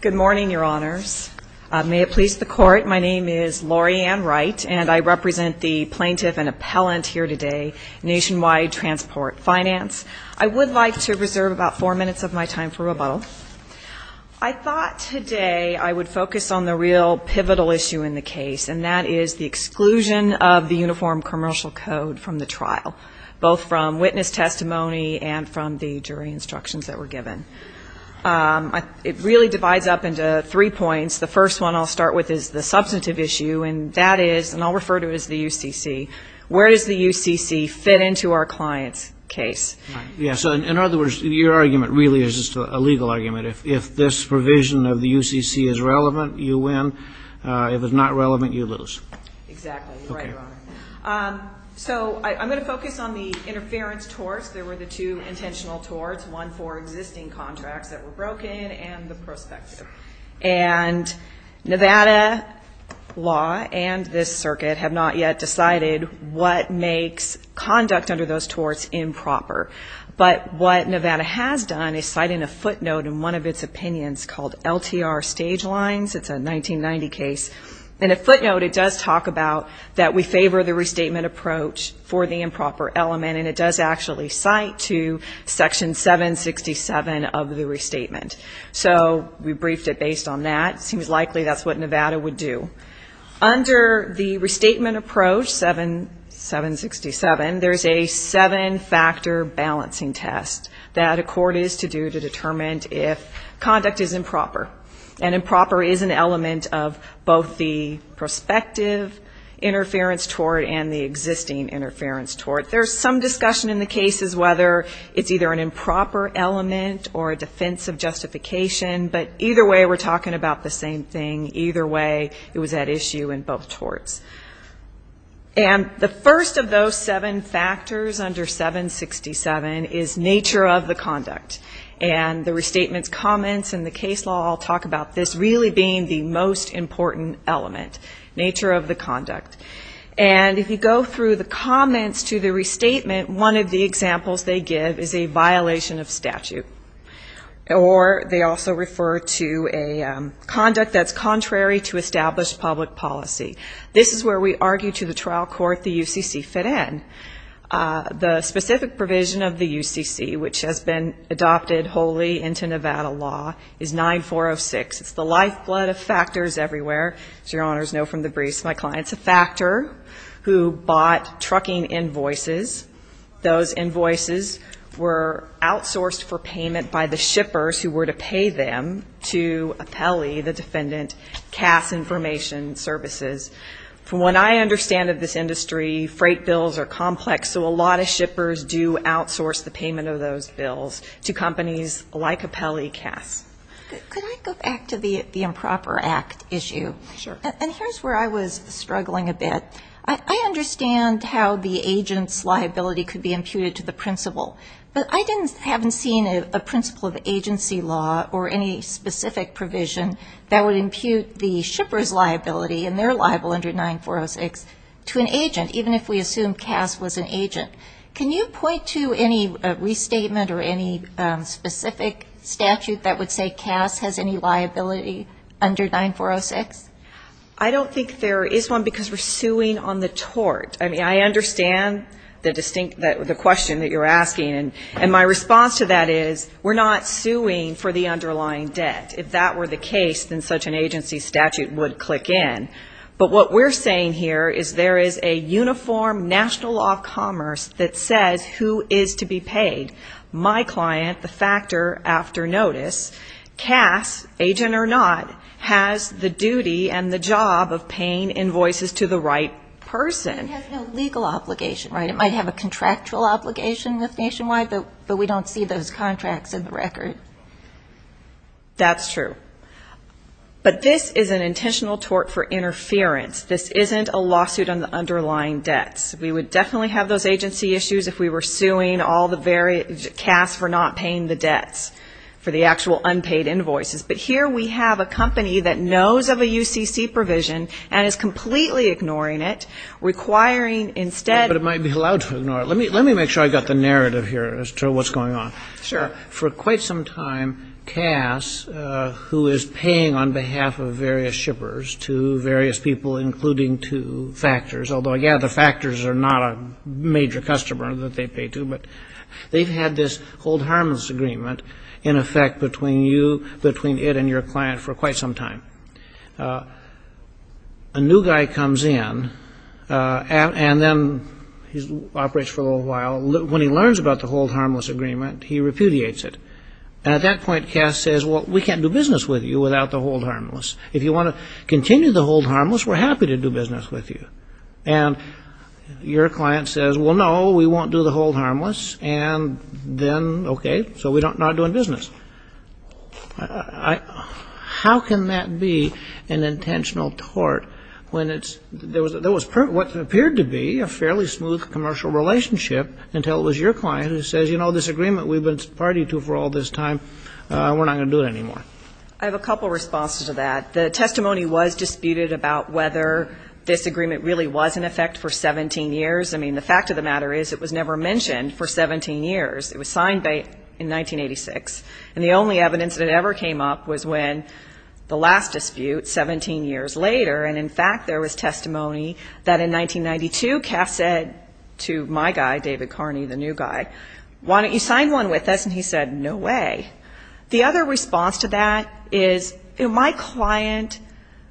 Good morning, Your Honors. May it please the Court, my name is Laurie Ann Wright, and I represent the plaintiff and appellant here today, Nationwide Transport Finance. I would like to reserve about four minutes of my time for rebuttal. I thought today I would focus on the real pivotal issue in the case, and that is the exclusion of the Uniform Commercial Code from the trial, both from witness testimony and from the jury instructions that were given. It really divides up into three points. The first one I'll start with is the substantive issue, and that is, and I'll refer to it as the UCC, where does the UCC fit into our client's case? Yes, in other words, your argument really is just a legal argument. If this provision of the UCC is relevant, you win. If it's not relevant, you lose. In the case of the interference torts, there were the two intentional torts, one for existing contracts that were broken and the prospective. And Nevada law and this circuit have not yet decided what makes conduct under those torts improper. But what Nevada has done is cited a footnote in one of its opinions called LTR Stage Lines. It's a 1990 case. In the footnote, it does talk about that we must actually cite to Section 767 of the restatement. So we briefed it based on that. It seems likely that's what Nevada would do. Under the restatement approach, 767, there's a seven-factor balancing test that a court is to do to determine if conduct is improper. And improper is an element of both the prospective interference tort and the existing interference tort. There's some discussion in the case as whether it's either an improper element or a defense of justification. But either way, we're talking about the same thing. Either way, it was at issue in both torts. And the first of those seven factors under 767 is nature of the conduct. And the restatement's comments in the case law all talk about this really being the most important element, nature of the conduct. And if you go through the comments to the restatement, one of the examples they give is a violation of statute. Or they also refer to a conduct that's contrary to established public policy. This is where we argue to the trial court the UCC fit in. The specific provision of the UCC, which has been adopted wholly into Nevada law, is 9406. It's the lifeblood of factors everywhere. As your honors know from the briefs of my clients, a factor who bought trucking invoices, those invoices were outsourced for payment by the shippers who were to pay them to Apelli, the defendant, CAS information services. From what I understand of this industry, freight bills are complex, so a lot of shippers do outsource the payment of those bills to companies like Apelli CAS. Could I go back to the improper act issue? Sure. And here's where I was struggling a bit. I understand how the agent's liability could be imputed to the principle, but I haven't seen a principle of agency law or any specific provision that would impute the shipper's liability and their liability under 9406 to an agent, even if we assume CAS was an agent. Can you point to any restatement or any specific statute that would say CAS has any liability under 9406? I don't think there is one because we're suing on the tort. I mean, I understand the question that you're asking, and my response to that is we're not suing for the underlying debt. If that were the case, then such an agency statute would click in. But what we're saying here is there is a uniform national law of commerce that says who is to be paid. My client, the factor after notice, CAS, agent or not, has the duty and the job of paying invoices to the right person. It has no legal obligation, right? It might have a contractual obligation with Nationwide, but we don't see those contracts in the record. That's true. But this is an intentional tort for interference. This isn't a lawsuit on the underlying debts. We would definitely have those agency issues if we were suing all the various CAS for not paying the debts for the actual unpaid invoices. But here we have a company that knows of a UCC provision and is completely ignoring it, requiring instead... But it might be allowed to ignore it. Let me make sure I got the narrative here as to what's going on. Sure. For quite some time, CAS, who is paying on behalf of various shippers to various people, including to factors, although, yeah, the factors are not a major customer that they pay to, but they've had this Hold Harmless Agreement in effect between you, between it and your client for quite some time. A new guy comes in, and then he operates for a little while. When he learns about the Hold Harmless Agreement, he repudiates it. And at that point, CAS says, well, we can't do business with you without the Hold Harmless. If you want to continue the Hold Harmless, we're happy to do business with you. And your client says, well, no, we won't do the Hold Harmless, and then, okay, so we're not doing business. How can that be an intentional tort when it's... There was what appeared to be a fairly smooth commercial relationship until it was your client who says, you know, this agreement we've been party to for all this time, we're not going to do it anymore. I have a couple of responses to that. The testimony was disputed about whether this agreement really was in effect for 17 years. I mean, the fact of the matter is it was never mentioned for 17 years. It was signed in 1986, and it was never mentioned. And the only evidence that ever came up was when the last dispute, 17 years later, and, in fact, there was testimony that in 1992, CAS said to my guy, David Carney, the new guy, why don't you sign one with us? And he said, no way. The other response to that is, you know, my client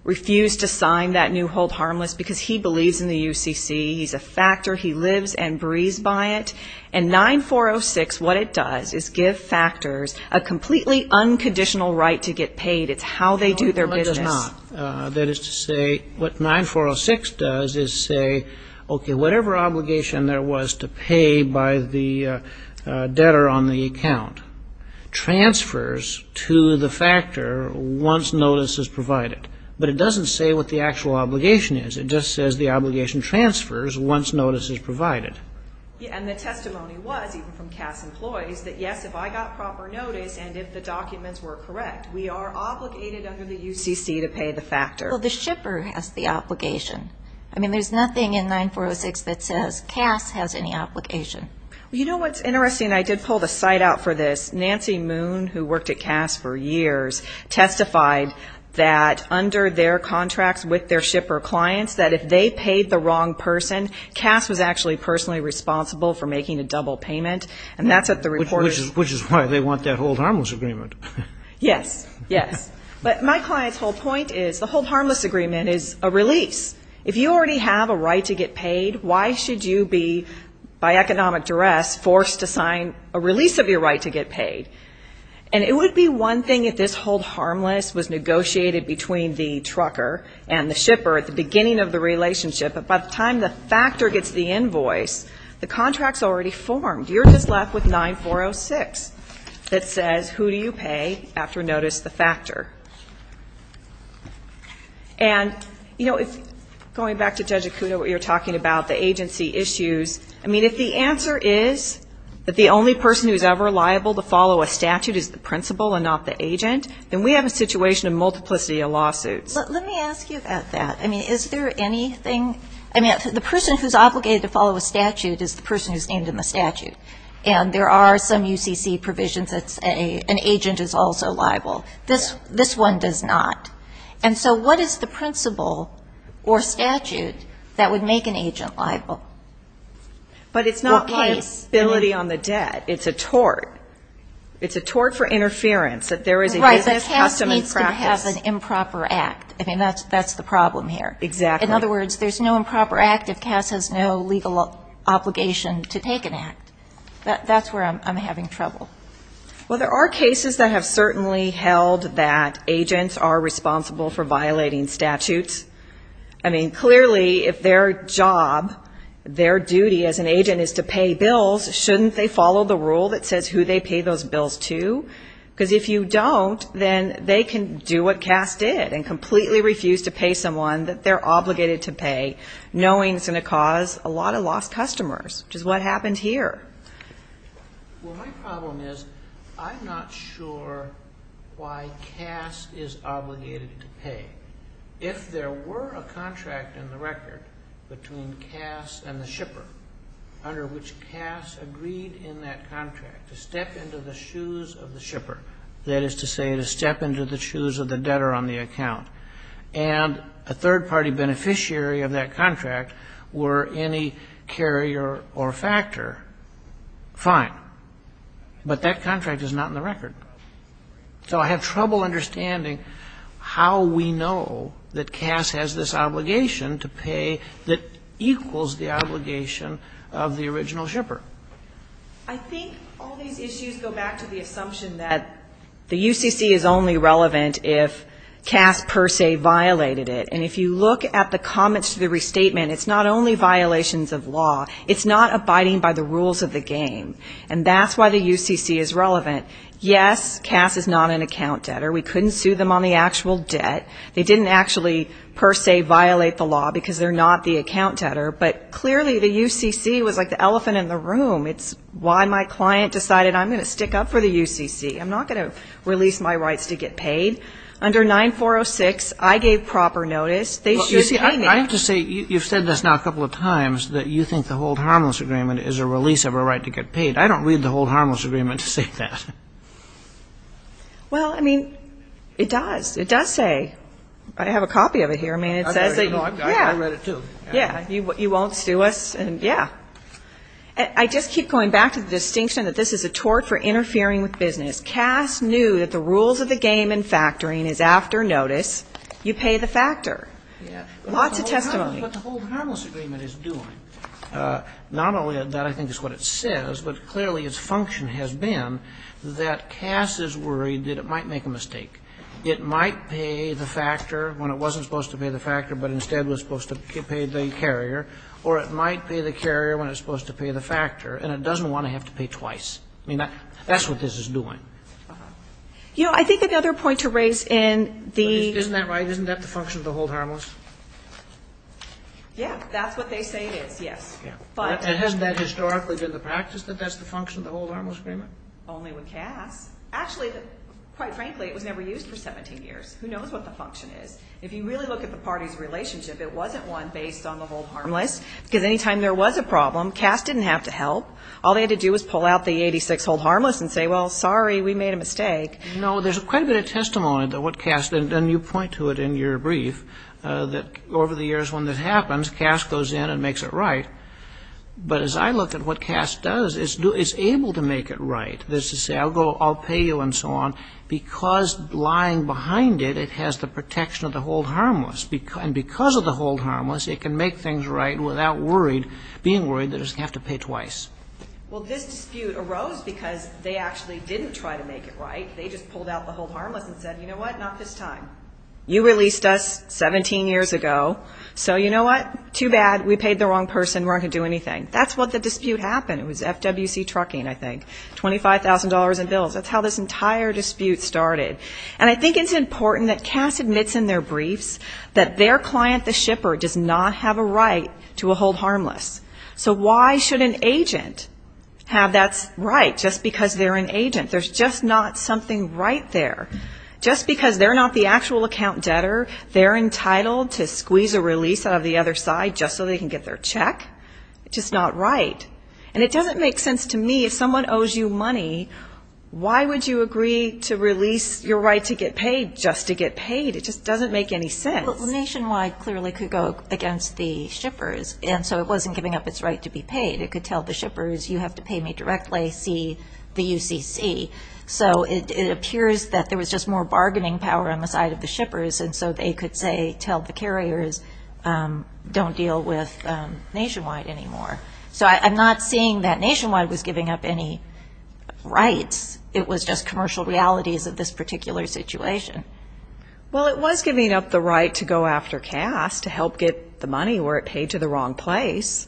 refused to sign that new Hold Harmless because he believes in the UCC. He's a factor. He lives and breathes by it. It's a completely unconditional right to get paid. It's how they do their business. No, it does not. That is to say, what 9406 does is say, okay, whatever obligation there was to pay by the debtor on the account, transfers to the factor once notice is provided. But it doesn't say what the actual obligation is. It just says the obligation transfers once notice is provided. And the testimony was, even from CAS employees, that yes, if I got proper notice and if the documents were correct, we are obligated under the UCC to pay the factor. Well, the shipper has the obligation. I mean, there's nothing in 9406 that says CAS has any obligation. You know what's interesting? I did pull the site out for this. Nancy Moon, who worked at CAS for years, testified that under their contracts with their shipper clients, that if they paid the wrong person, CAS was actually personally responsible for making a double payment. And that's what the reporters said. Which is why they want that Hold Harmless agreement. Yes, yes. But my client's whole point is the Hold Harmless agreement is a release. If you already have a right to get paid, why should you be, by economic standards, the trucker and the shipper at the beginning of the relationship? But by the time the factor gets the invoice, the contract's already formed. You're just left with 9406 that says who do you pay after notice the factor. And, you know, going back to Judge Acuda, what you were talking about, the agency issues, I mean, if the answer is that the only person who's ever liable to follow a statute is the principal and not the agent, then we have a situation of multiplicity of lawsuits. Let me ask you about that. I mean, is there anything, I mean, the person who's obligated to follow a statute is the person who's named in the statute. And there are some UCC provisions that say an agent is also liable. This one does not. And so what is the principle or statute that would make an agent liable? But it's not liability on the debt. It's a tort. It's a tort for interference. Right, but CAS needs to have an improper act. I mean, that's the problem here. In other words, there's no improper act if CAS has no legal obligation to take an act. That's where I'm having trouble. Well, there are cases that have certainly held that agents are responsible for violating statutes. I mean, clearly, if their job, their duty as an agent is to pay bills, shouldn't they follow the rule that says who they pay those bills to? Because if you don't, then they can do what CAS did and completely refuse to pay someone that they're obligated to pay, knowing it's going to cause a lot of lost customers, which is what happened here. Well, my problem is I'm not sure why CAS is obligated to pay. If there were a contract in the record between CAS and the shipper, under which CAS agreed in that contract to step into the shoes of the shipper, that is to say to step into the shoes of the debtor on the account, and a third-party beneficiary of that contract were any carrier or factor, fine, but that contract is not in the record. So I have trouble understanding how we know that CAS has this obligation to pay that equals the obligation of the original shipper. I think all these issues go back to the assumption that the UCC is only relevant if CAS per se violated it. And if you look at the comments to the restatement, it's not only violations of law, it's not abiding by the rules of the game. And that's why the UCC is relevant. Yes, CAS is not an account debtor. We couldn't sue them on the actual debt. They didn't actually per se violate the law because they're not the account debtor. But clearly the UCC was like the elephant in the room. It's why my client decided I'm going to stick up for the UCC. I'm not going to release my rights to get paid. Under 9406, I gave proper notice. They should pay me. I have to say, you've said this now a couple of times, that you think the Hold Harmless Agreement is a release of a right to get paid. I don't read the Hold Harmless Agreement to say that. Well, I mean, it does. It does say, I have a copy of it here. I read it too. I just keep going back to the distinction that this is a tort for interfering with business. CAS knew that the rules of the game in factoring is after notice, you pay the factor. Lots of testimony. What the Hold Harmless Agreement is doing, not only that I think is what it says, but clearly its function has been that CAS is worried that it might make a mistake. It might pay the factor when it wasn't supposed to pay the factor, but instead was supposed to pay the carrier, or it might pay the carrier when it's supposed to pay the factor, and it doesn't want to have to pay twice. I mean, that's what this is doing. Isn't that right? Isn't that the function of the Hold Harmless? And hasn't that historically been the practice, that that's the function of the Hold Harmless Agreement? Only with CAS. Actually, quite frankly, it was never used for 17 years. Who knows what the function is? If you really look at the parties' relationship, it wasn't one based on the Hold Harmless, because any time there was a problem, CAS didn't have to help. All they had to do was pull out the 86 Hold Harmless and say, well, sorry, we made a mistake. No, there's quite a bit of testimony that what CAS, and you point to it in your brief, that over the years when this happens, CAS goes in and makes it right. But as I look at what CAS does, it's able to make it right. It's able to say, I'll pay you, and so on, because lying behind it, it has the protection of the Hold Harmless. And because of the Hold Harmless, it can make things right without being worried that it's going to have to pay twice. Well, this dispute arose because they actually didn't try to make it right. They just pulled out the Hold Harmless and said, you know what, not this time. You released us 17 years ago, so you know what, too bad, we paid the wrong person, we're not going to do anything. That's what the dispute happened. It was FWC Trucking, I think, $25,000 in bills. That's how this entire dispute started. And I think it's important that CAS admits in their briefs that their client, the shipper, does not have a right to a Hold Harmless. So why should an agent have that right, just because they're an agent? There's just not something right there. Just because they're not the actual account debtor, they're entitled to squeeze a release out of the other side just so they can get their check? It's just not right. And it doesn't make sense to me, if someone owes you money, why would you agree to release your right to get paid just to get paid? It just doesn't make any sense. Well, Nationwide clearly could go against the shippers, and so it wasn't giving up its right to be paid. It could tell the shippers, you have to pay me directly, see the UCC. So it appears that there was just more bargaining power on the side of the shippers, and so they could say, tell the carriers, don't deal with Nationwide anymore. So I'm not seeing that Nationwide was giving up any rights. It was just commercial realities of this particular situation. Well, it was giving up the right to go after CAS to help get the money where it paid to the wrong place.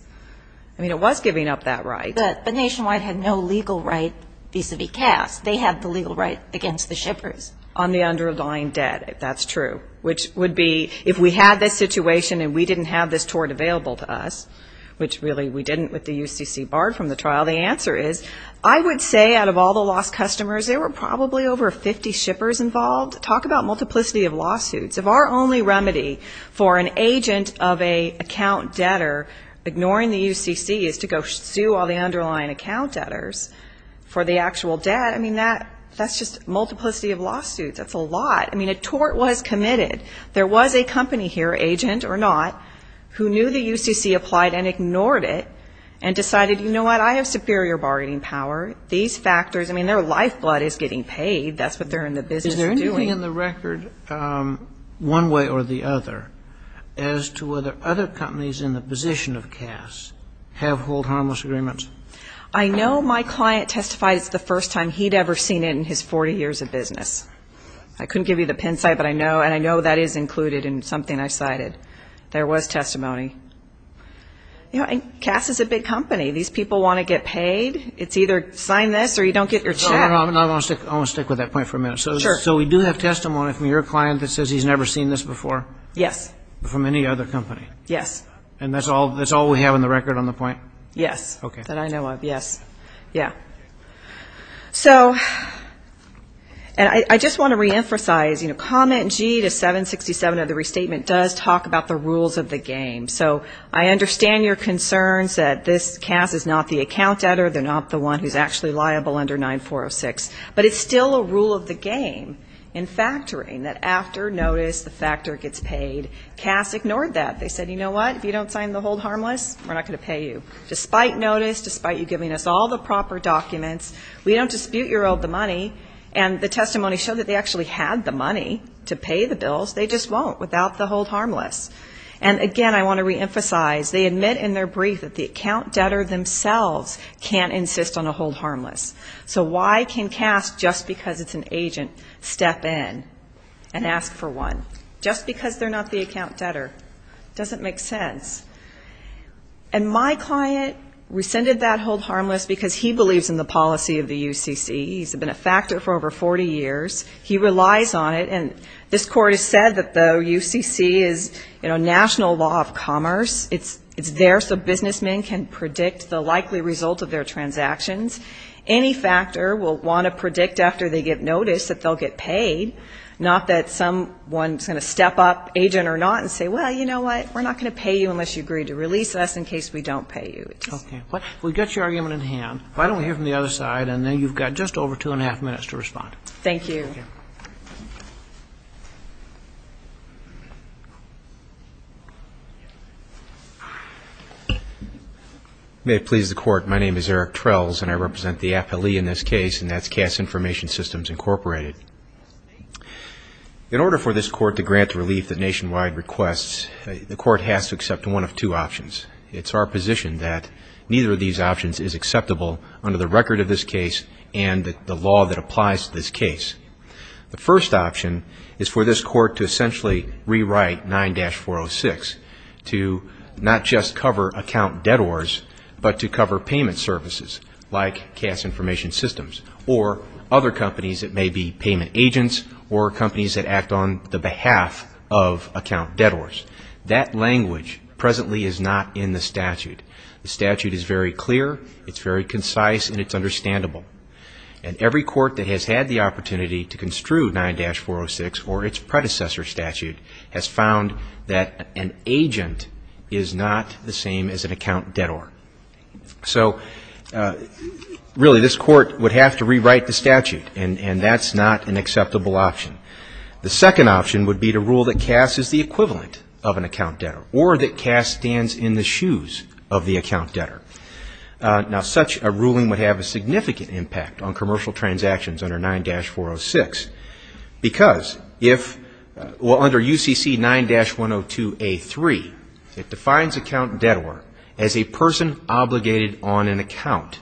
I mean, it was giving up that right. But Nationwide had no legal right vis-a-vis CAS. They had the legal right against the shippers. On the underlying debt, if that's true, which would be, if we had this situation and we didn't have this tort available to us, which really we didn't with the UCC barred from the trial, the answer is, I would say out of all the lost customers, there were probably over 50 shippers involved. Talk about multiplicity of lawsuits. If our only remedy for an agent of an account debtor ignoring the UCC is to go sue all the underlying account debtors for the actual debt, I mean, that's just multiplicity of lawsuits. That's a lot. I mean, a tort was committed. There was a company here, agent or not, who knew the UCC applied and ignored it and decided, you know what, I have superior bargaining power. These factors, I mean, their lifeblood is getting paid. That's what they're in the business doing. Is there anything in the record one way or the other as to whether other companies in the position of CAS have hold harmless agreements? I know my client testified it's the first time he'd ever seen it in his 40 years of business. I couldn't give you the pin site, but I know, and I know that is included in something I cited. There was testimony. CAS is a big company. These people want to get paid. It's either sign this or you don't get your check. I want to stick with that point for a minute. So we do have testimony from your client that says he's never seen this before? Yes. From any other company? Yes. And that's all we have in the record on the point? Yes, that I know of, yes. So, and I just want to reemphasize, you know, comment G to 767 of the restatement does talk about the rules of the game. So I understand your concerns that this CAS is not the account debtor. They're not the one who's actually liable under 9406. But it's still a rule of the game in factoring that after notice the factor gets paid. CAS ignored that. They said, you know what, if you don't sign the hold harmless, we're not going to pay you. Despite notice, despite you giving us all the proper documents, we don't dispute your owed the money. And the testimony showed that they actually had the money to pay the bills, they just won't without the hold harmless. And again, I want to reemphasize, they admit in their brief that the account debtor themselves can't insist on a hold harmless. So why can CAS, just because it's an agent, step in and ask for one? Just because they're not the account debtor doesn't make sense. And my client rescinded that hold harmless because he believes in the policy of the UCC. He's been a factor for over 40 years. He relies on it, and this Court has said that the UCC is, you know, national law of commerce. It's there so businessmen can predict the likely result of their transactions. Any factor will want to predict after they get notice that they'll get paid, not that someone's going to step up, agent or not, and say, well, you know what, we're not going to pay you unless you agree to release us in case we don't pay you. But if we get your argument in hand, why don't we hear from the other side, and then you've got just over two and a half minutes to respond. Thank you. May it please the Court, my name is Eric Trells, and I represent the Appellee in this case, and that's CAS Information Systems, Incorporated. In order for this Court to grant relief to nationwide requests, the Court has to accept one of two options. It's our position that neither of these options is acceptable under the record of this case and the law that applies to this case. The first option is for this Court to essentially rewrite 9-406 to not just cover account debtors, but to cover payment services like CAS Information Systems or other companies that may be payment agents or companies that act on the behalf of account debtors. That language presently is not in the statute. The statute is very clear, it's very concise, and it's understandable. And every Court that has had the opportunity to construe 9-406 or its predecessor statute has found that an agent is not the same as an account debtor. So, really, this Court would have to rewrite the statute, and that's not an acceptable option. The second option would be to rule that CAS is the equivalent of an account debtor, or that CAS stands in the shoes of the account debtor. Now, such a ruling would have a significant impact on commercial transactions under 9-406, because if... Well, under UCC 9-102A3, it defines account debtor as a person obligated on an account.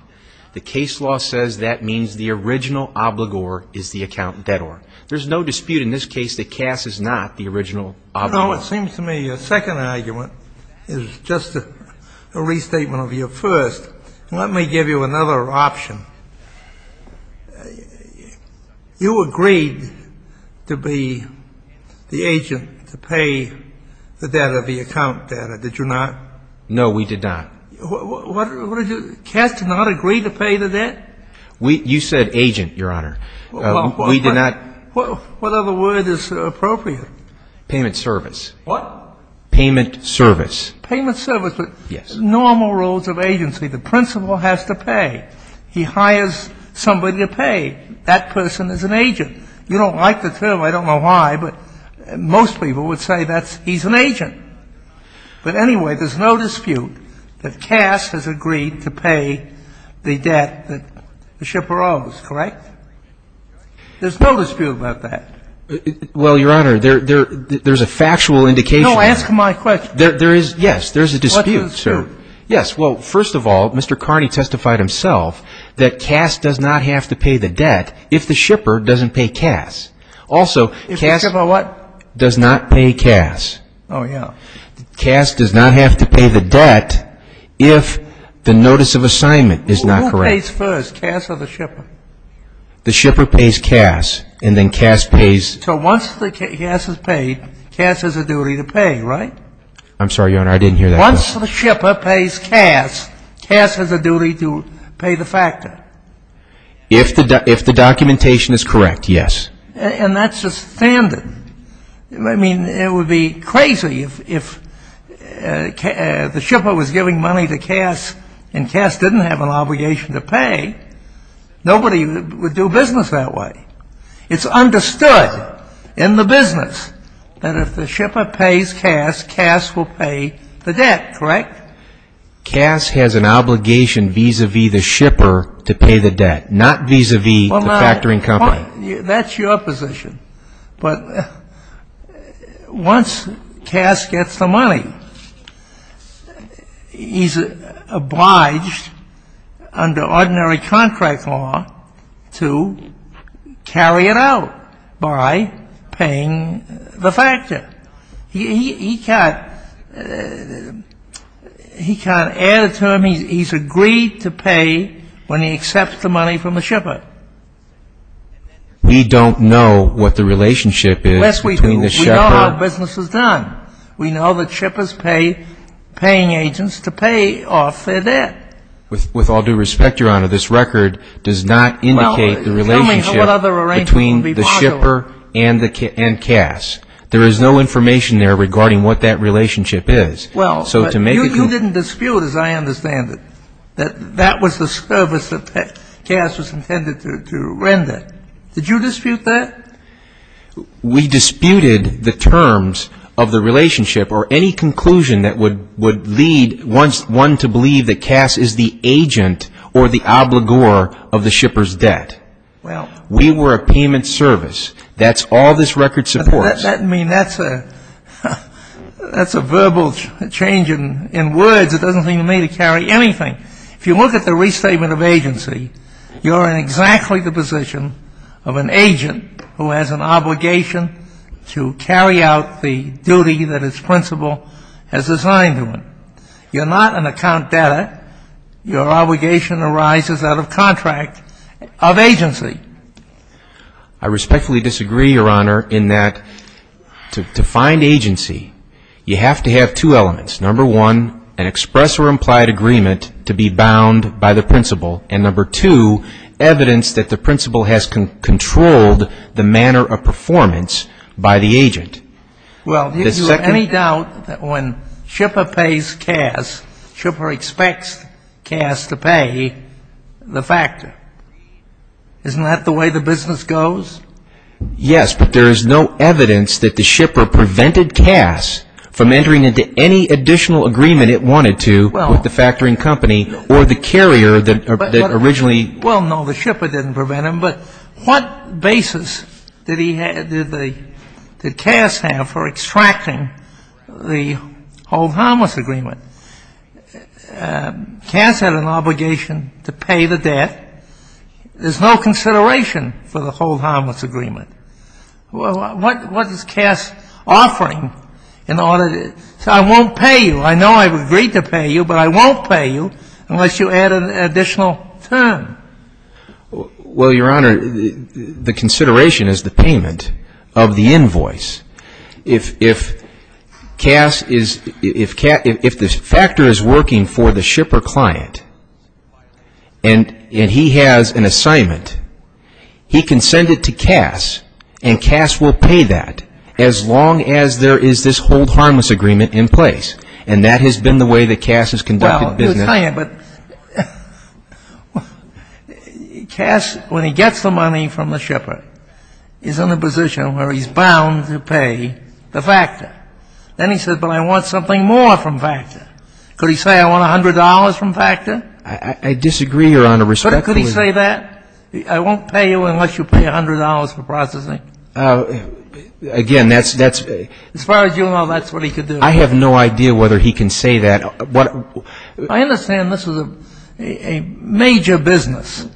The case law says that means the original obligor is the account debtor. There's no dispute in this case that CAS is not the original obligor. No, it seems to me your second argument is just a restatement of your first. Let me give you another option. You agreed to be the agent to pay the debtor the account debtor, did you not? No, we did not. What did you do? CAS did not agree to pay the debt? You said agent, Your Honor. What other word is appropriate? Payment service. What? Payment service. Payment service. Yes. But normal rules of agency, the principal has to pay. He hires somebody to pay. That person is an agent. You don't like the term. I don't know why, but most people would say that's he's an agent. But anyway, there's no dispute that CAS has agreed to pay the debt that the shipper owes, correct? There's no dispute about that. Well, Your Honor, there's a factual indication. No, answer my question. There is, yes. There's a dispute, sir. What dispute? Yes. Well, first of all, Mr. Carney testified himself that CAS does not have to pay the debt if the shipper doesn't pay CAS. Also, CAS does not pay CAS. Oh, yeah. CAS does not have to pay the debt if the notice of assignment is not correct. Who pays first, CAS or the shipper? The shipper pays CAS, and then CAS pays. So once CAS is paid, CAS has a duty to pay, right? I'm sorry, Your Honor, I didn't hear that. Once the shipper pays CAS, CAS has a duty to pay the factor. If the documentation is correct, yes. And that's just standard. I mean, it would be crazy if the shipper was giving money to CAS and CAS didn't have an obligation to pay. Nobody would do business that way. It's understood in the business that if the shipper pays CAS, CAS will pay the debt, correct? CAS has an obligation vis-a-vis the shipper to pay the debt, not vis-a-vis the factoring company. That's your position. But once CAS gets the money, he's obliged under ordinary contract law to carry it out by paying the factor. He can't add a term. He's agreed to pay when he accepts the money from the shipper. We don't know what the relationship is between the shipper. Yes, we do. We know how business is done. We know that shippers pay paying agents to pay off their debt. With all due respect, Your Honor, this record does not indicate the relationship between the shipper and CAS. There is no information there regarding what that relationship is. You didn't dispute, as I understand it, that that was the service that CAS was intended to render. Did you dispute that? We disputed the terms of the relationship or any conclusion that would lead one to believe that CAS is the agent or the obligor of the shipper's debt. We were a payment service. That's all this record supports. That means that's a verbal change in words. It doesn't seem to me to carry anything. If you look at the restatement of agency, you're in exactly the position of an agent who has an obligation to carry out the duty that his principal has assigned to him. You're not an account debtor. Your obligation arises out of contract of agency. I respectfully disagree, Your Honor, in that to find agency, you have to have two elements. Number one, an express or implied agreement to be bound by the principal. And number two, evidence that the principal has controlled the manner of performance by the agent. Well, do you have any doubt that when shipper pays CAS, shipper expects CAS to pay the factor? Isn't that the way the business goes? Yes, but there is no evidence that the shipper prevented CAS from entering into any additional agreement it wanted to with the factoring company or the carrier that originally. Well, no, the shipper didn't prevent him, but what basis did he have, did CAS have for extracting the hold harmless agreement? CAS had an obligation to pay the debt. There's no consideration for the hold harmless agreement. Well, what is CAS offering in order to say I won't pay you? I know I've agreed to pay you, but I won't pay you unless you add an additional term. Well, Your Honor, the consideration is the payment of the invoice. If CAS is, if the factor is working for the shipper client and he has an assignment, he can send it to CAS and CAS will pay that as long as there is this hold harmless agreement in place. And that has been the way that CAS has conducted business. But CAS, when he gets the money from the shipper, is in a position where he's bound to pay the factor. Then he says, but I want something more from factor. Could he say I want $100 from factor? I disagree, Your Honor, respectfully. Could he say that? I won't pay you unless you pay $100 for processing. Again, that's, that's. As far as you know, that's what he could do. I have no idea whether he can say that. I understand this is a major business.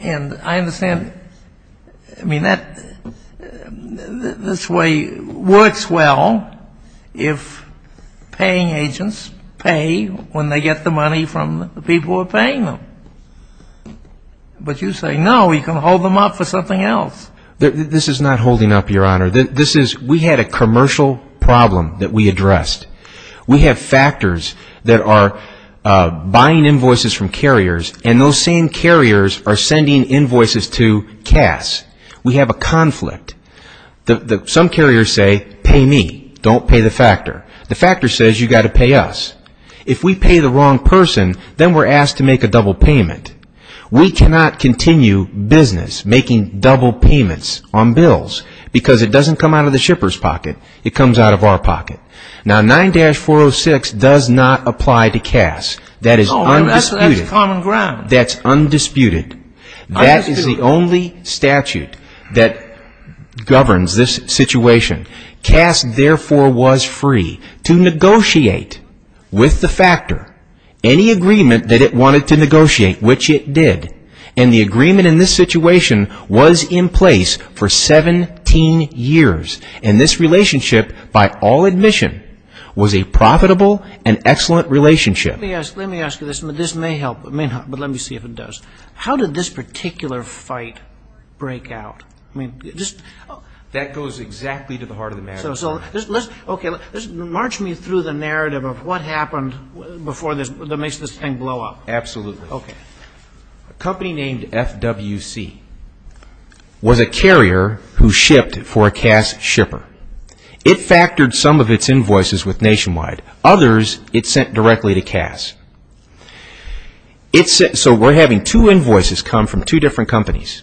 And I understand, I mean, that this way works well if paying agents pay when they get the money from the people who are paying them. But you say, no, you can hold them up for something else. This is not holding up, Your Honor. This is, we had a commercial problem that we addressed. We have factors that are buying invoices from carriers, and those same carriers are sending invoices to CAS. We have a conflict. Some carriers say, pay me. Don't pay the factor. The factor says you've got to pay us. If we pay the wrong person, then we're asked to make a double payment. We cannot continue business making double payments on bills because it doesn't come out of the shipper's pocket. It comes out of our pocket. Now, 9-406 does not apply to CAS. That is undisputed. That's common ground. That's undisputed. That is the only statute that governs this situation. CAS, therefore, was free to negotiate with the factor any agreement that it wanted to negotiate, which it did. And the agreement in this situation was in place for 17 years. And this relationship, by all admission, was a profitable and excellent relationship. Let me ask you this, and this may help, but let me see if it does. How did this particular fight break out? That goes exactly to the heart of the matter. March me through the narrative of what happened before this, that makes this thing blow up. Absolutely. A company named FWC was a carrier who shipped for a CAS shipper. It factored some of its invoices with Nationwide. Others, it sent directly to CAS. So we're having two invoices come from two different companies.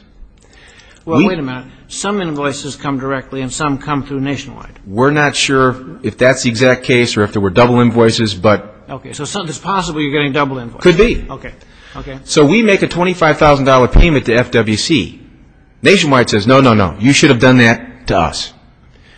Well, wait a minute. Some invoices come directly and some come through Nationwide. We're not sure if that's the exact case or if there were double invoices. So it's possible you're getting double invoices. Could be. So we make a $25,000 payment to FWC. Nationwide says, no, no, no. You should have done that to us.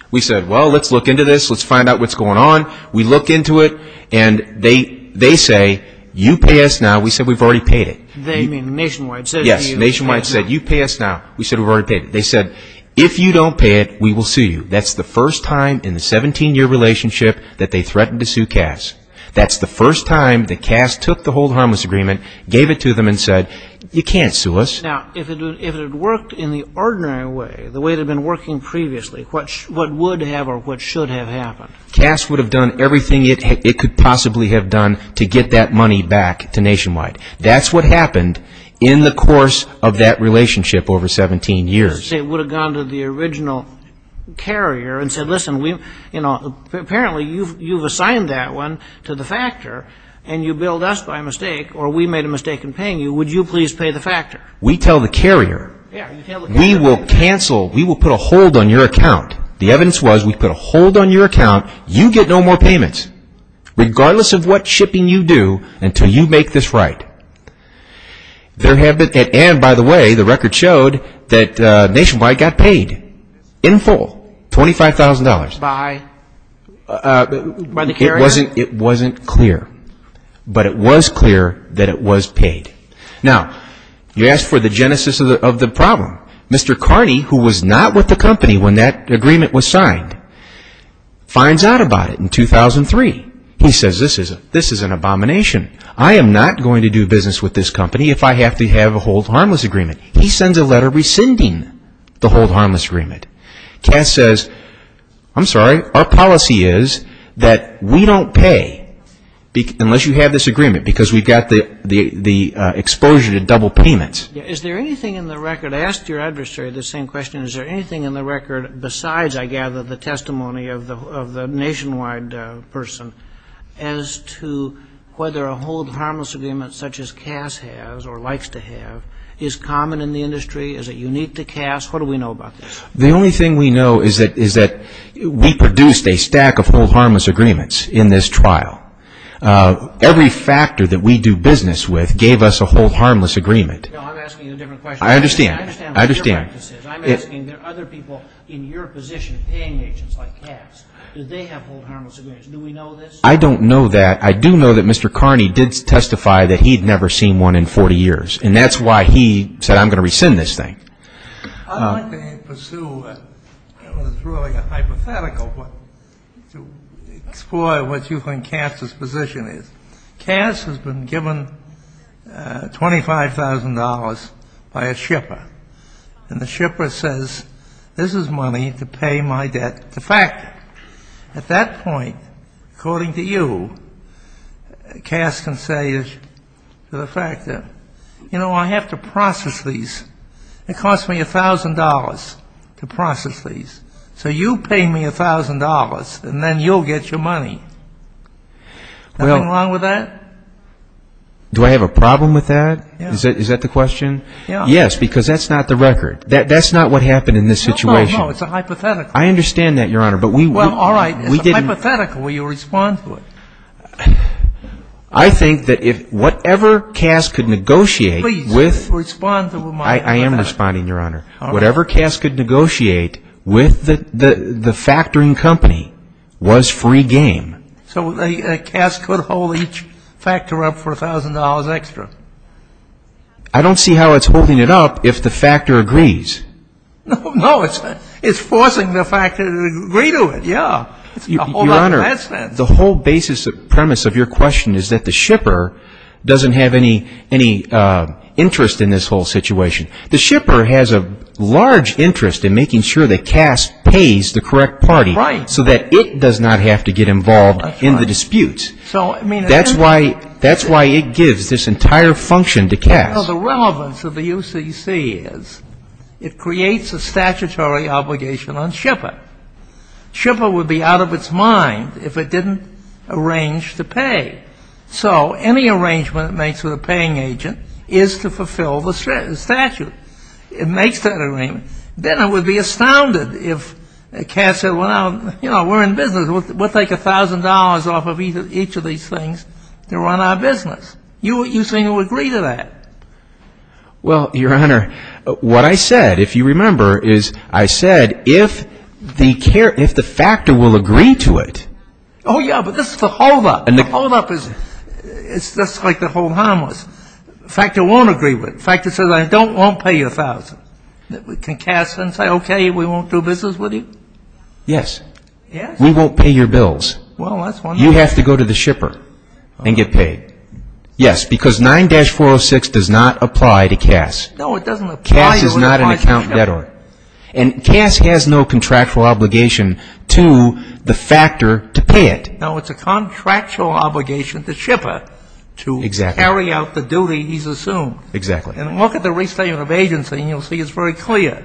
We said, well, let's look into this. Let's find out what's going on. We look into it, and they say, you pay us now. We said, we've already paid it. They mean Nationwide. Yes, Nationwide said, you pay us now. We said, we've already paid it. They said, if you don't pay it, we will sue you. That's the first time in the 17-year relationship that they threatened to sue CAS. That's the first time that CAS took the Hold Harmless Agreement, gave it to them, and said, you can't sue us. Now, if it had worked in the ordinary way, the way it had been working previously, what would have or what should have happened? CAS would have done everything it could possibly have done to get that money back to Nationwide. That's what happened in the course of that relationship over 17 years. It would have gone to the original carrier and said, listen, apparently you've assigned that one to the factor, and you billed us by mistake or we made a mistake in paying you. Would you please pay the factor? We tell the carrier, we will cancel, we will put a hold on your account. The evidence was we put a hold on your account. You get no more payments, regardless of what shipping you do, until you make this right. And, by the way, the record showed that Nationwide got paid in full, $25,000. By the carrier? It wasn't clear, but it was clear that it was paid. Now, you ask for the genesis of the problem. Mr. Carney, who was not with the company when that agreement was signed, finds out about it in 2003. He says, this is an abomination. I am not going to do business with this company if I have to have a hold harmless agreement. He sends a letter rescinding the hold harmless agreement. Cass says, I'm sorry, our policy is that we don't pay unless you have this agreement, because we've got the exposure to double payments. Is there anything in the record, I asked your adversary the same question, is there anything in the record besides, I gather, the testimony of the Nationwide person, as to whether a hold harmless agreement, such as Cass has or likes to have, is common in the industry? Is it unique to Cass? What do we know about this? The only thing we know is that we produced a stack of hold harmless agreements in this trial. Every factor that we do business with gave us a hold harmless agreement. No, I'm asking you a different question. I understand. I understand what the difference is. I'm asking, there are other people in your position, paying agents like Cass, do they have hold harmless agreements? Do we know this? I don't know that. I do know that Mr. Carney did testify that he had never seen one in 40 years, and that's why he said, I'm going to rescind this thing. I'm not going to pursue what is really a hypothetical, but to explore what you think Cass's position is. Cass has been given $25,000 by a shipper, and the shipper says, this is money to pay my debt. The fact, at that point, according to you, Cass can say to the fact that, you know, I have to process these. It cost me $1,000 to process these. So you pay me $1,000, and then you'll get your money. Nothing wrong with that? Do I have a problem with that? Yes. Is that the question? Yes, because that's not the record. That's not what happened in this situation. No, no, no, it's a hypothetical. I understand that, Your Honor. Well, all right, it's a hypothetical. Will you respond to it? I think that whatever Cass could negotiate with the factoring company was free game. So Cass could hold each factor up for $1,000 extra? I don't see how it's holding it up if the factor agrees. No, it's forcing the factor to agree to it, yeah. Your Honor, the whole premise of your question is that the shipper doesn't have any interest in this whole situation. The shipper has a large interest in making sure that Cass pays the correct party so that it does not have to get involved in the disputes. That's why it gives this entire function to Cass. Well, the relevance of the UCC is it creates a statutory obligation on shipper. Shipper would be out of its mind if it didn't arrange to pay. So any arrangement it makes with a paying agent is to fulfill the statute. It makes that arrangement. Then it would be astounded if Cass said, well, you know, we're in business. We'll take $1,000 off of each of these things to run our business. You say you'll agree to that. Well, Your Honor, what I said, if you remember, is I said if the factor will agree to it. Oh, yeah, but this is the holdup. The holdup is just like the hold harmless. The factor won't agree with it. The factor says, I won't pay you $1,000. Can Cass then say, okay, we won't do business with you? Yes. Yes? We won't pay your bills. Well, that's wonderful. You have to go to the shipper and get paid. Yes, because 9-406 does not apply to Cass. No, it doesn't apply. Cass is not an account debtor. And Cass has no contractual obligation to the factor to pay it. No, it's a contractual obligation to shipper to carry out the duty he's assumed. Exactly. And look at the restatement of agency, and you'll see it's very clear.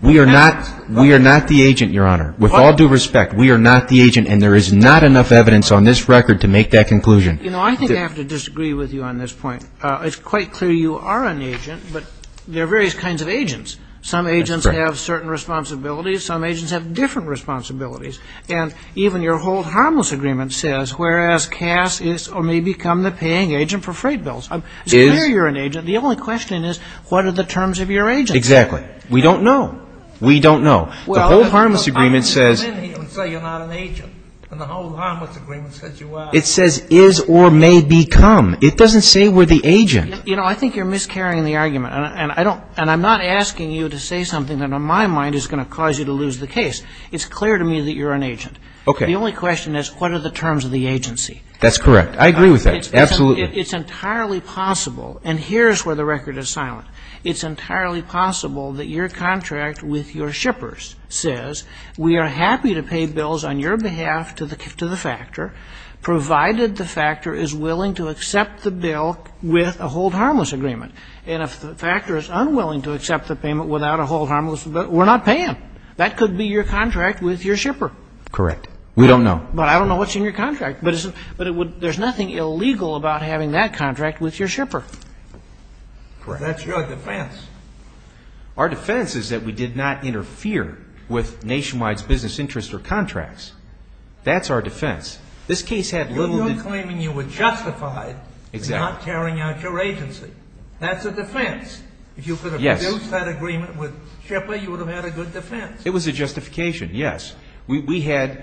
We are not the agent, Your Honor. With all due respect, we are not the agent, and there is not enough evidence on this record to make that conclusion. You know, I think I have to disagree with you on this point. It's quite clear you are an agent, but there are various kinds of agents. Some agents have certain responsibilities. Some agents have different responsibilities. And even your hold harmless agreement says, whereas Cass is or may become the paying agent for freight bills. So where you're an agent, the only question is, what are the terms of your agency? Exactly. We don't know. We don't know. The hold harmless agreement says you're not an agent, and the hold harmless agreement says you are. It says is or may become. It doesn't say we're the agent. You know, I think you're miscarrying the argument, and I'm not asking you to say something that in my mind is going to cause you to lose the case. It's clear to me that you're an agent. Okay. The only question is, what are the terms of the agency? That's correct. I agree with that. Absolutely. It's entirely possible, and here's where the record is silent. It's entirely possible that your contract with your shippers says, we are happy to pay bills on your behalf to the factor, provided the factor is willing to accept the bill with a hold harmless agreement. And if the factor is unwilling to accept the payment without a hold harmless agreement, we're not paying. That could be your contract with your shipper. Correct. We don't know. But I don't know what's in your contract. But there's nothing illegal about having that contract with your shipper. Correct. That's your defense. Our defense is that we did not interfere with Nationwide's business interests or contracts. That's our defense. This case had little to do – You're claiming you were justified in not carrying out your agency. That's a defense. Yes. If you could have produced that agreement with the shipper, you would have had a good defense. It was a justification, yes. We had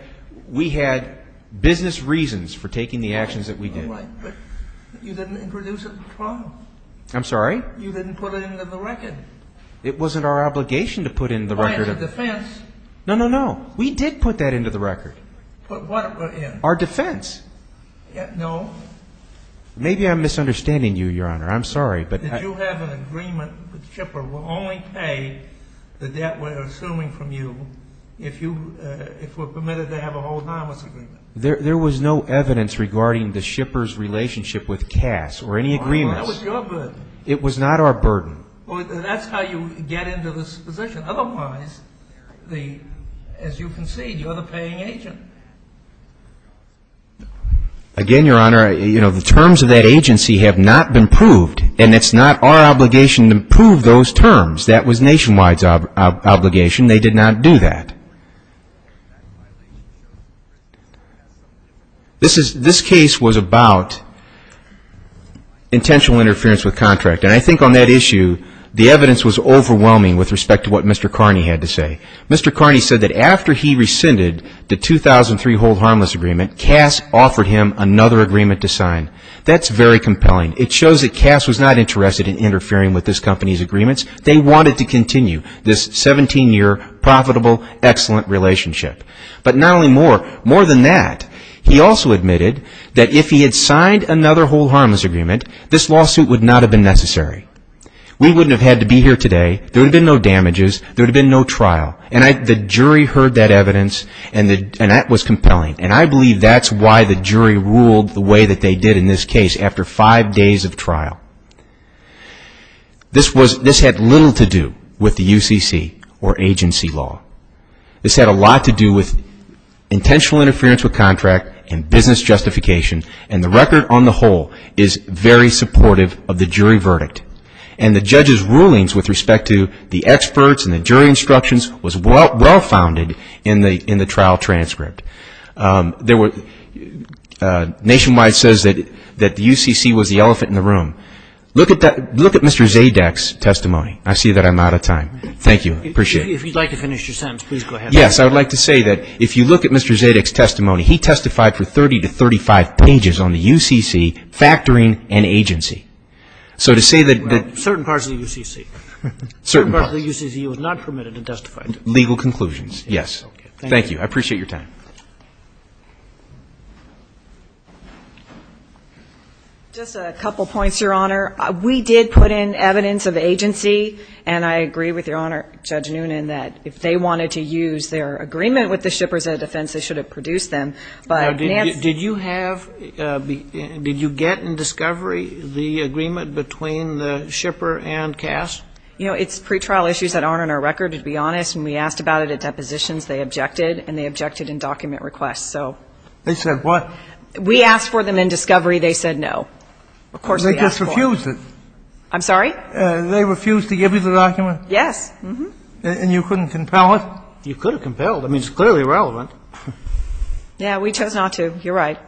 business reasons for taking the actions that we did. But you didn't introduce it in the trial. I'm sorry? You didn't put it into the record. It wasn't our obligation to put it into the record. Oh, it's a defense. No, no, no. We did put that into the record. Put what in? Our defense. No. Maybe I'm misunderstanding you, Your Honor. I'm sorry. Did you have an agreement with the shipper we'll only pay the debt we're assuming from you if we're permitted to have a hold harmless agreement? There was no evidence regarding the shipper's relationship with Cass or any agreements. That was your burden. It was not our burden. Well, that's how you get into this position. Otherwise, as you concede, you're the paying agent. Again, Your Honor, the terms of that agency have not been proved, and it's not our obligation to prove those terms. That was Nationwide's obligation. They did not do that. This case was about intentional interference with contract, and I think on that issue the evidence was overwhelming with respect to what Mr. Carney had to say. Mr. Carney said that after he rescinded the 2003 hold harmless agreement, Cass offered him another agreement to sign. That's very compelling. It shows that Cass was not interested in interfering with this company's agreements. They wanted to continue. This 17-year profitable, excellent relationship. But not only more, more than that, he also admitted that if he had signed another hold harmless agreement, this lawsuit would not have been necessary. We wouldn't have had to be here today. There would have been no damages. There would have been no trial. And the jury heard that evidence, and that was compelling. And I believe that's why the jury ruled the way that they did in this case after five days of trial. This had little to do with the UCC or agency law. This had a lot to do with intentional interference with contract and business justification, and the record on the whole is very supportive of the jury verdict. And the judge's rulings with respect to the experts and the jury instructions was well-founded in the trial transcript. Nationwide says that the UCC was the elephant in the room. Look at Mr. Zadek's testimony. I see that I'm out of time. Thank you. Appreciate it. If you'd like to finish your sentence, please go ahead. Yes. I would like to say that if you look at Mr. Zadek's testimony, he testified for 30 to 35 pages on the UCC factoring and agency. So to say that the – Right. Certain parts of the UCC. Certain parts. Certain parts of the UCC was not permitted to testify. Legal conclusions. Yes. Thank you. I appreciate your time. Just a couple points, Your Honor. We did put in evidence of agency, and I agree with Your Honor, Judge Noonan, that if they wanted to use their agreement with the shippers at a defense, they should have produced them. Now, did you have – did you get in discovery the agreement between the shipper and Cass? You know, it's pretrial issues that aren't on our record, to be honest. And we asked about it at depositions. They objected, and they objected in document requests. They said what? We asked for them in discovery. They said no. Of course we asked for them. They just refused it. I'm sorry? They refused to give you the document? Yes. And you couldn't compel it? You could have compelled it. I mean, it's clearly irrelevant. Yeah. We chose not to. You're right.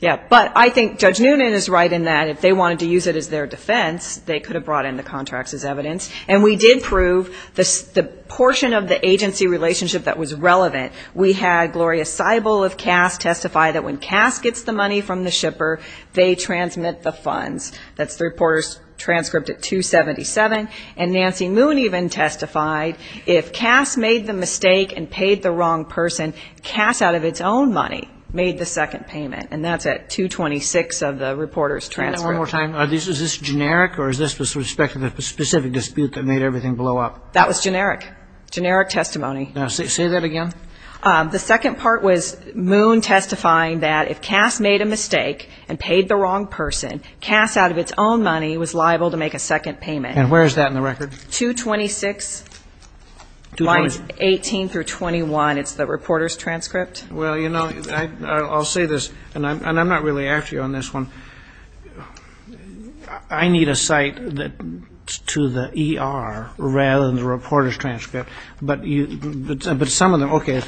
Yeah. But I think Judge Noonan is right in that if they wanted to use it as their defense, they could have brought in the contracts as evidence. And we did prove the portion of the agency relationship that was relevant. We had Gloria Seibel of Cass testify that when Cass gets the money from the shipper, they transmit the funds. That's the reporter's transcript at 277. And Nancy Moon even testified if Cass made the mistake and paid the wrong person, Cass, out of its own money, made the second payment. And that's at 226 of the reporter's transcript. One more time. Is this generic or is this with respect to the specific dispute that made everything blow up? That was generic. Generic testimony. Say that again. The second part was Moon testifying that if Cass made a mistake and paid the wrong person, Cass, out of its own money, was liable to make a second payment. And where is that in the record? 226 lines 18 through 21. It's the reporter's transcript. Well, you know, I'll say this, and I'm not really after you on this one. I need a cite to the ER rather than the reporter's transcript. But some of them, okay.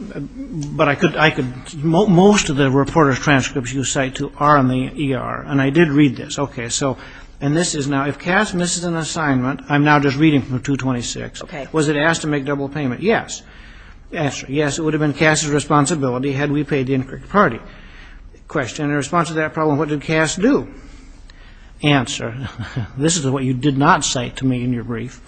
But I could, most of the reporter's transcripts you cite to are in the ER. And I did read this. Okay. So, and this is now, if Cass misses an assignment, I'm now just reading from 226. Okay. Was it asked to make double payment? Yes. Answer. Yes, it would have been Cass's responsibility had we paid the incorrect party. Question. In response to that problem, what did Cass do? Answer. This is what you did not cite to me in your brief.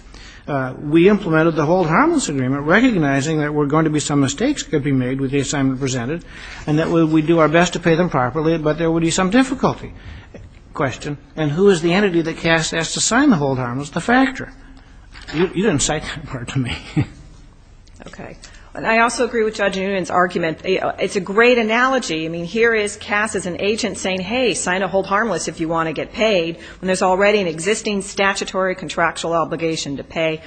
We implemented the hold harmless agreement, recognizing that there were going to be some mistakes could be made with the assignment presented, and that we would do our best to pay them properly, but there would be some difficulty. Question. And who is the entity that Cass asked to sign the hold harmless? The factor. You didn't cite that part to me. Okay. I also agree with Judge Nguyen's argument. It's a great analogy. I mean, here is Cass as an agent saying, hey, sign a hold harmless if you want to get paid, when there's already an existing statutory contractual obligation to pay.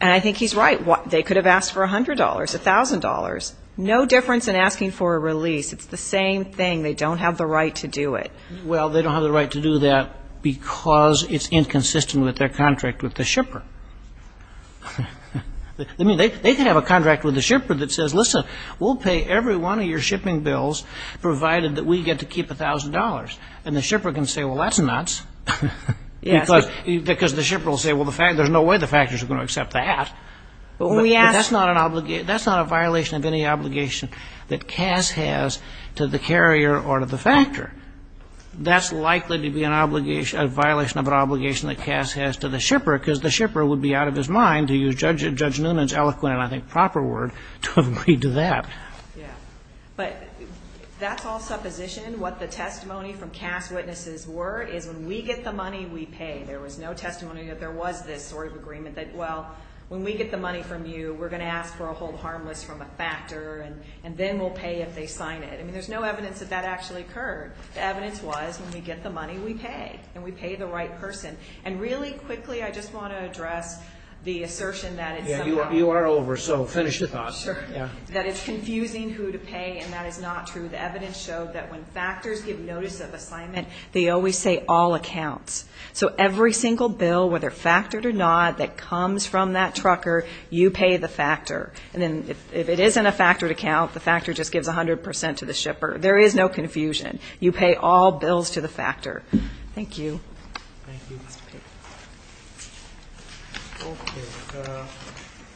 And I think he's right. They could have asked for $100, $1,000. No difference in asking for a release. It's the same thing. They don't have the right to do it. Well, they don't have the right to do that because it's inconsistent with their contract with the shipper. I mean, they could have a contract with the shipper that says, listen, we'll pay every one of your shipping bills provided that we get to keep $1,000. And the shipper can say, well, that's nuts. Because the shipper will say, well, there's no way the factor is going to accept that. That's not a violation of any obligation that Cass has to the carrier or to the factor. That's likely to be a violation of an obligation that Cass has to the shipper, because the shipper would be out of his mind to use Judge Nguyen's eloquent and I think proper word to agree to that. Yeah. But that's all supposition. What the testimony from Cass' witnesses were is when we get the money, we pay. There was no testimony that there was this sort of agreement that, well, when we get the money from you, we're going to ask for a hold harmless from a factor and then we'll pay if they sign it. I mean, there's no evidence that that actually occurred. The evidence was when we get the money, we pay, and we pay the right person. And really quickly, I just want to address the assertion that it's somehow— Yeah, you are over, so finish the thought. Sure. That it's confusing who to pay, and that is not true. The evidence showed that when factors give notice of assignment, they always say all accounts. So every single bill, whether factored or not, that comes from that trucker, you pay the factor. And then if it isn't a factored account, the factor just gives 100 percent to the shipper. There is no confusion. You pay all bills to the factor. Thank you. Thank you, Mr. Payton. Okay.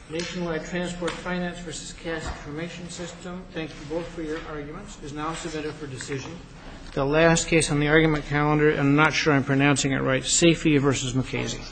Nationwide Transport Finance v. Cass Information System, thank you both for your arguments, is now submitted for decision. The last case on the argument calendar, and I'm not sure I'm pronouncing it right, Safey v. McKazy.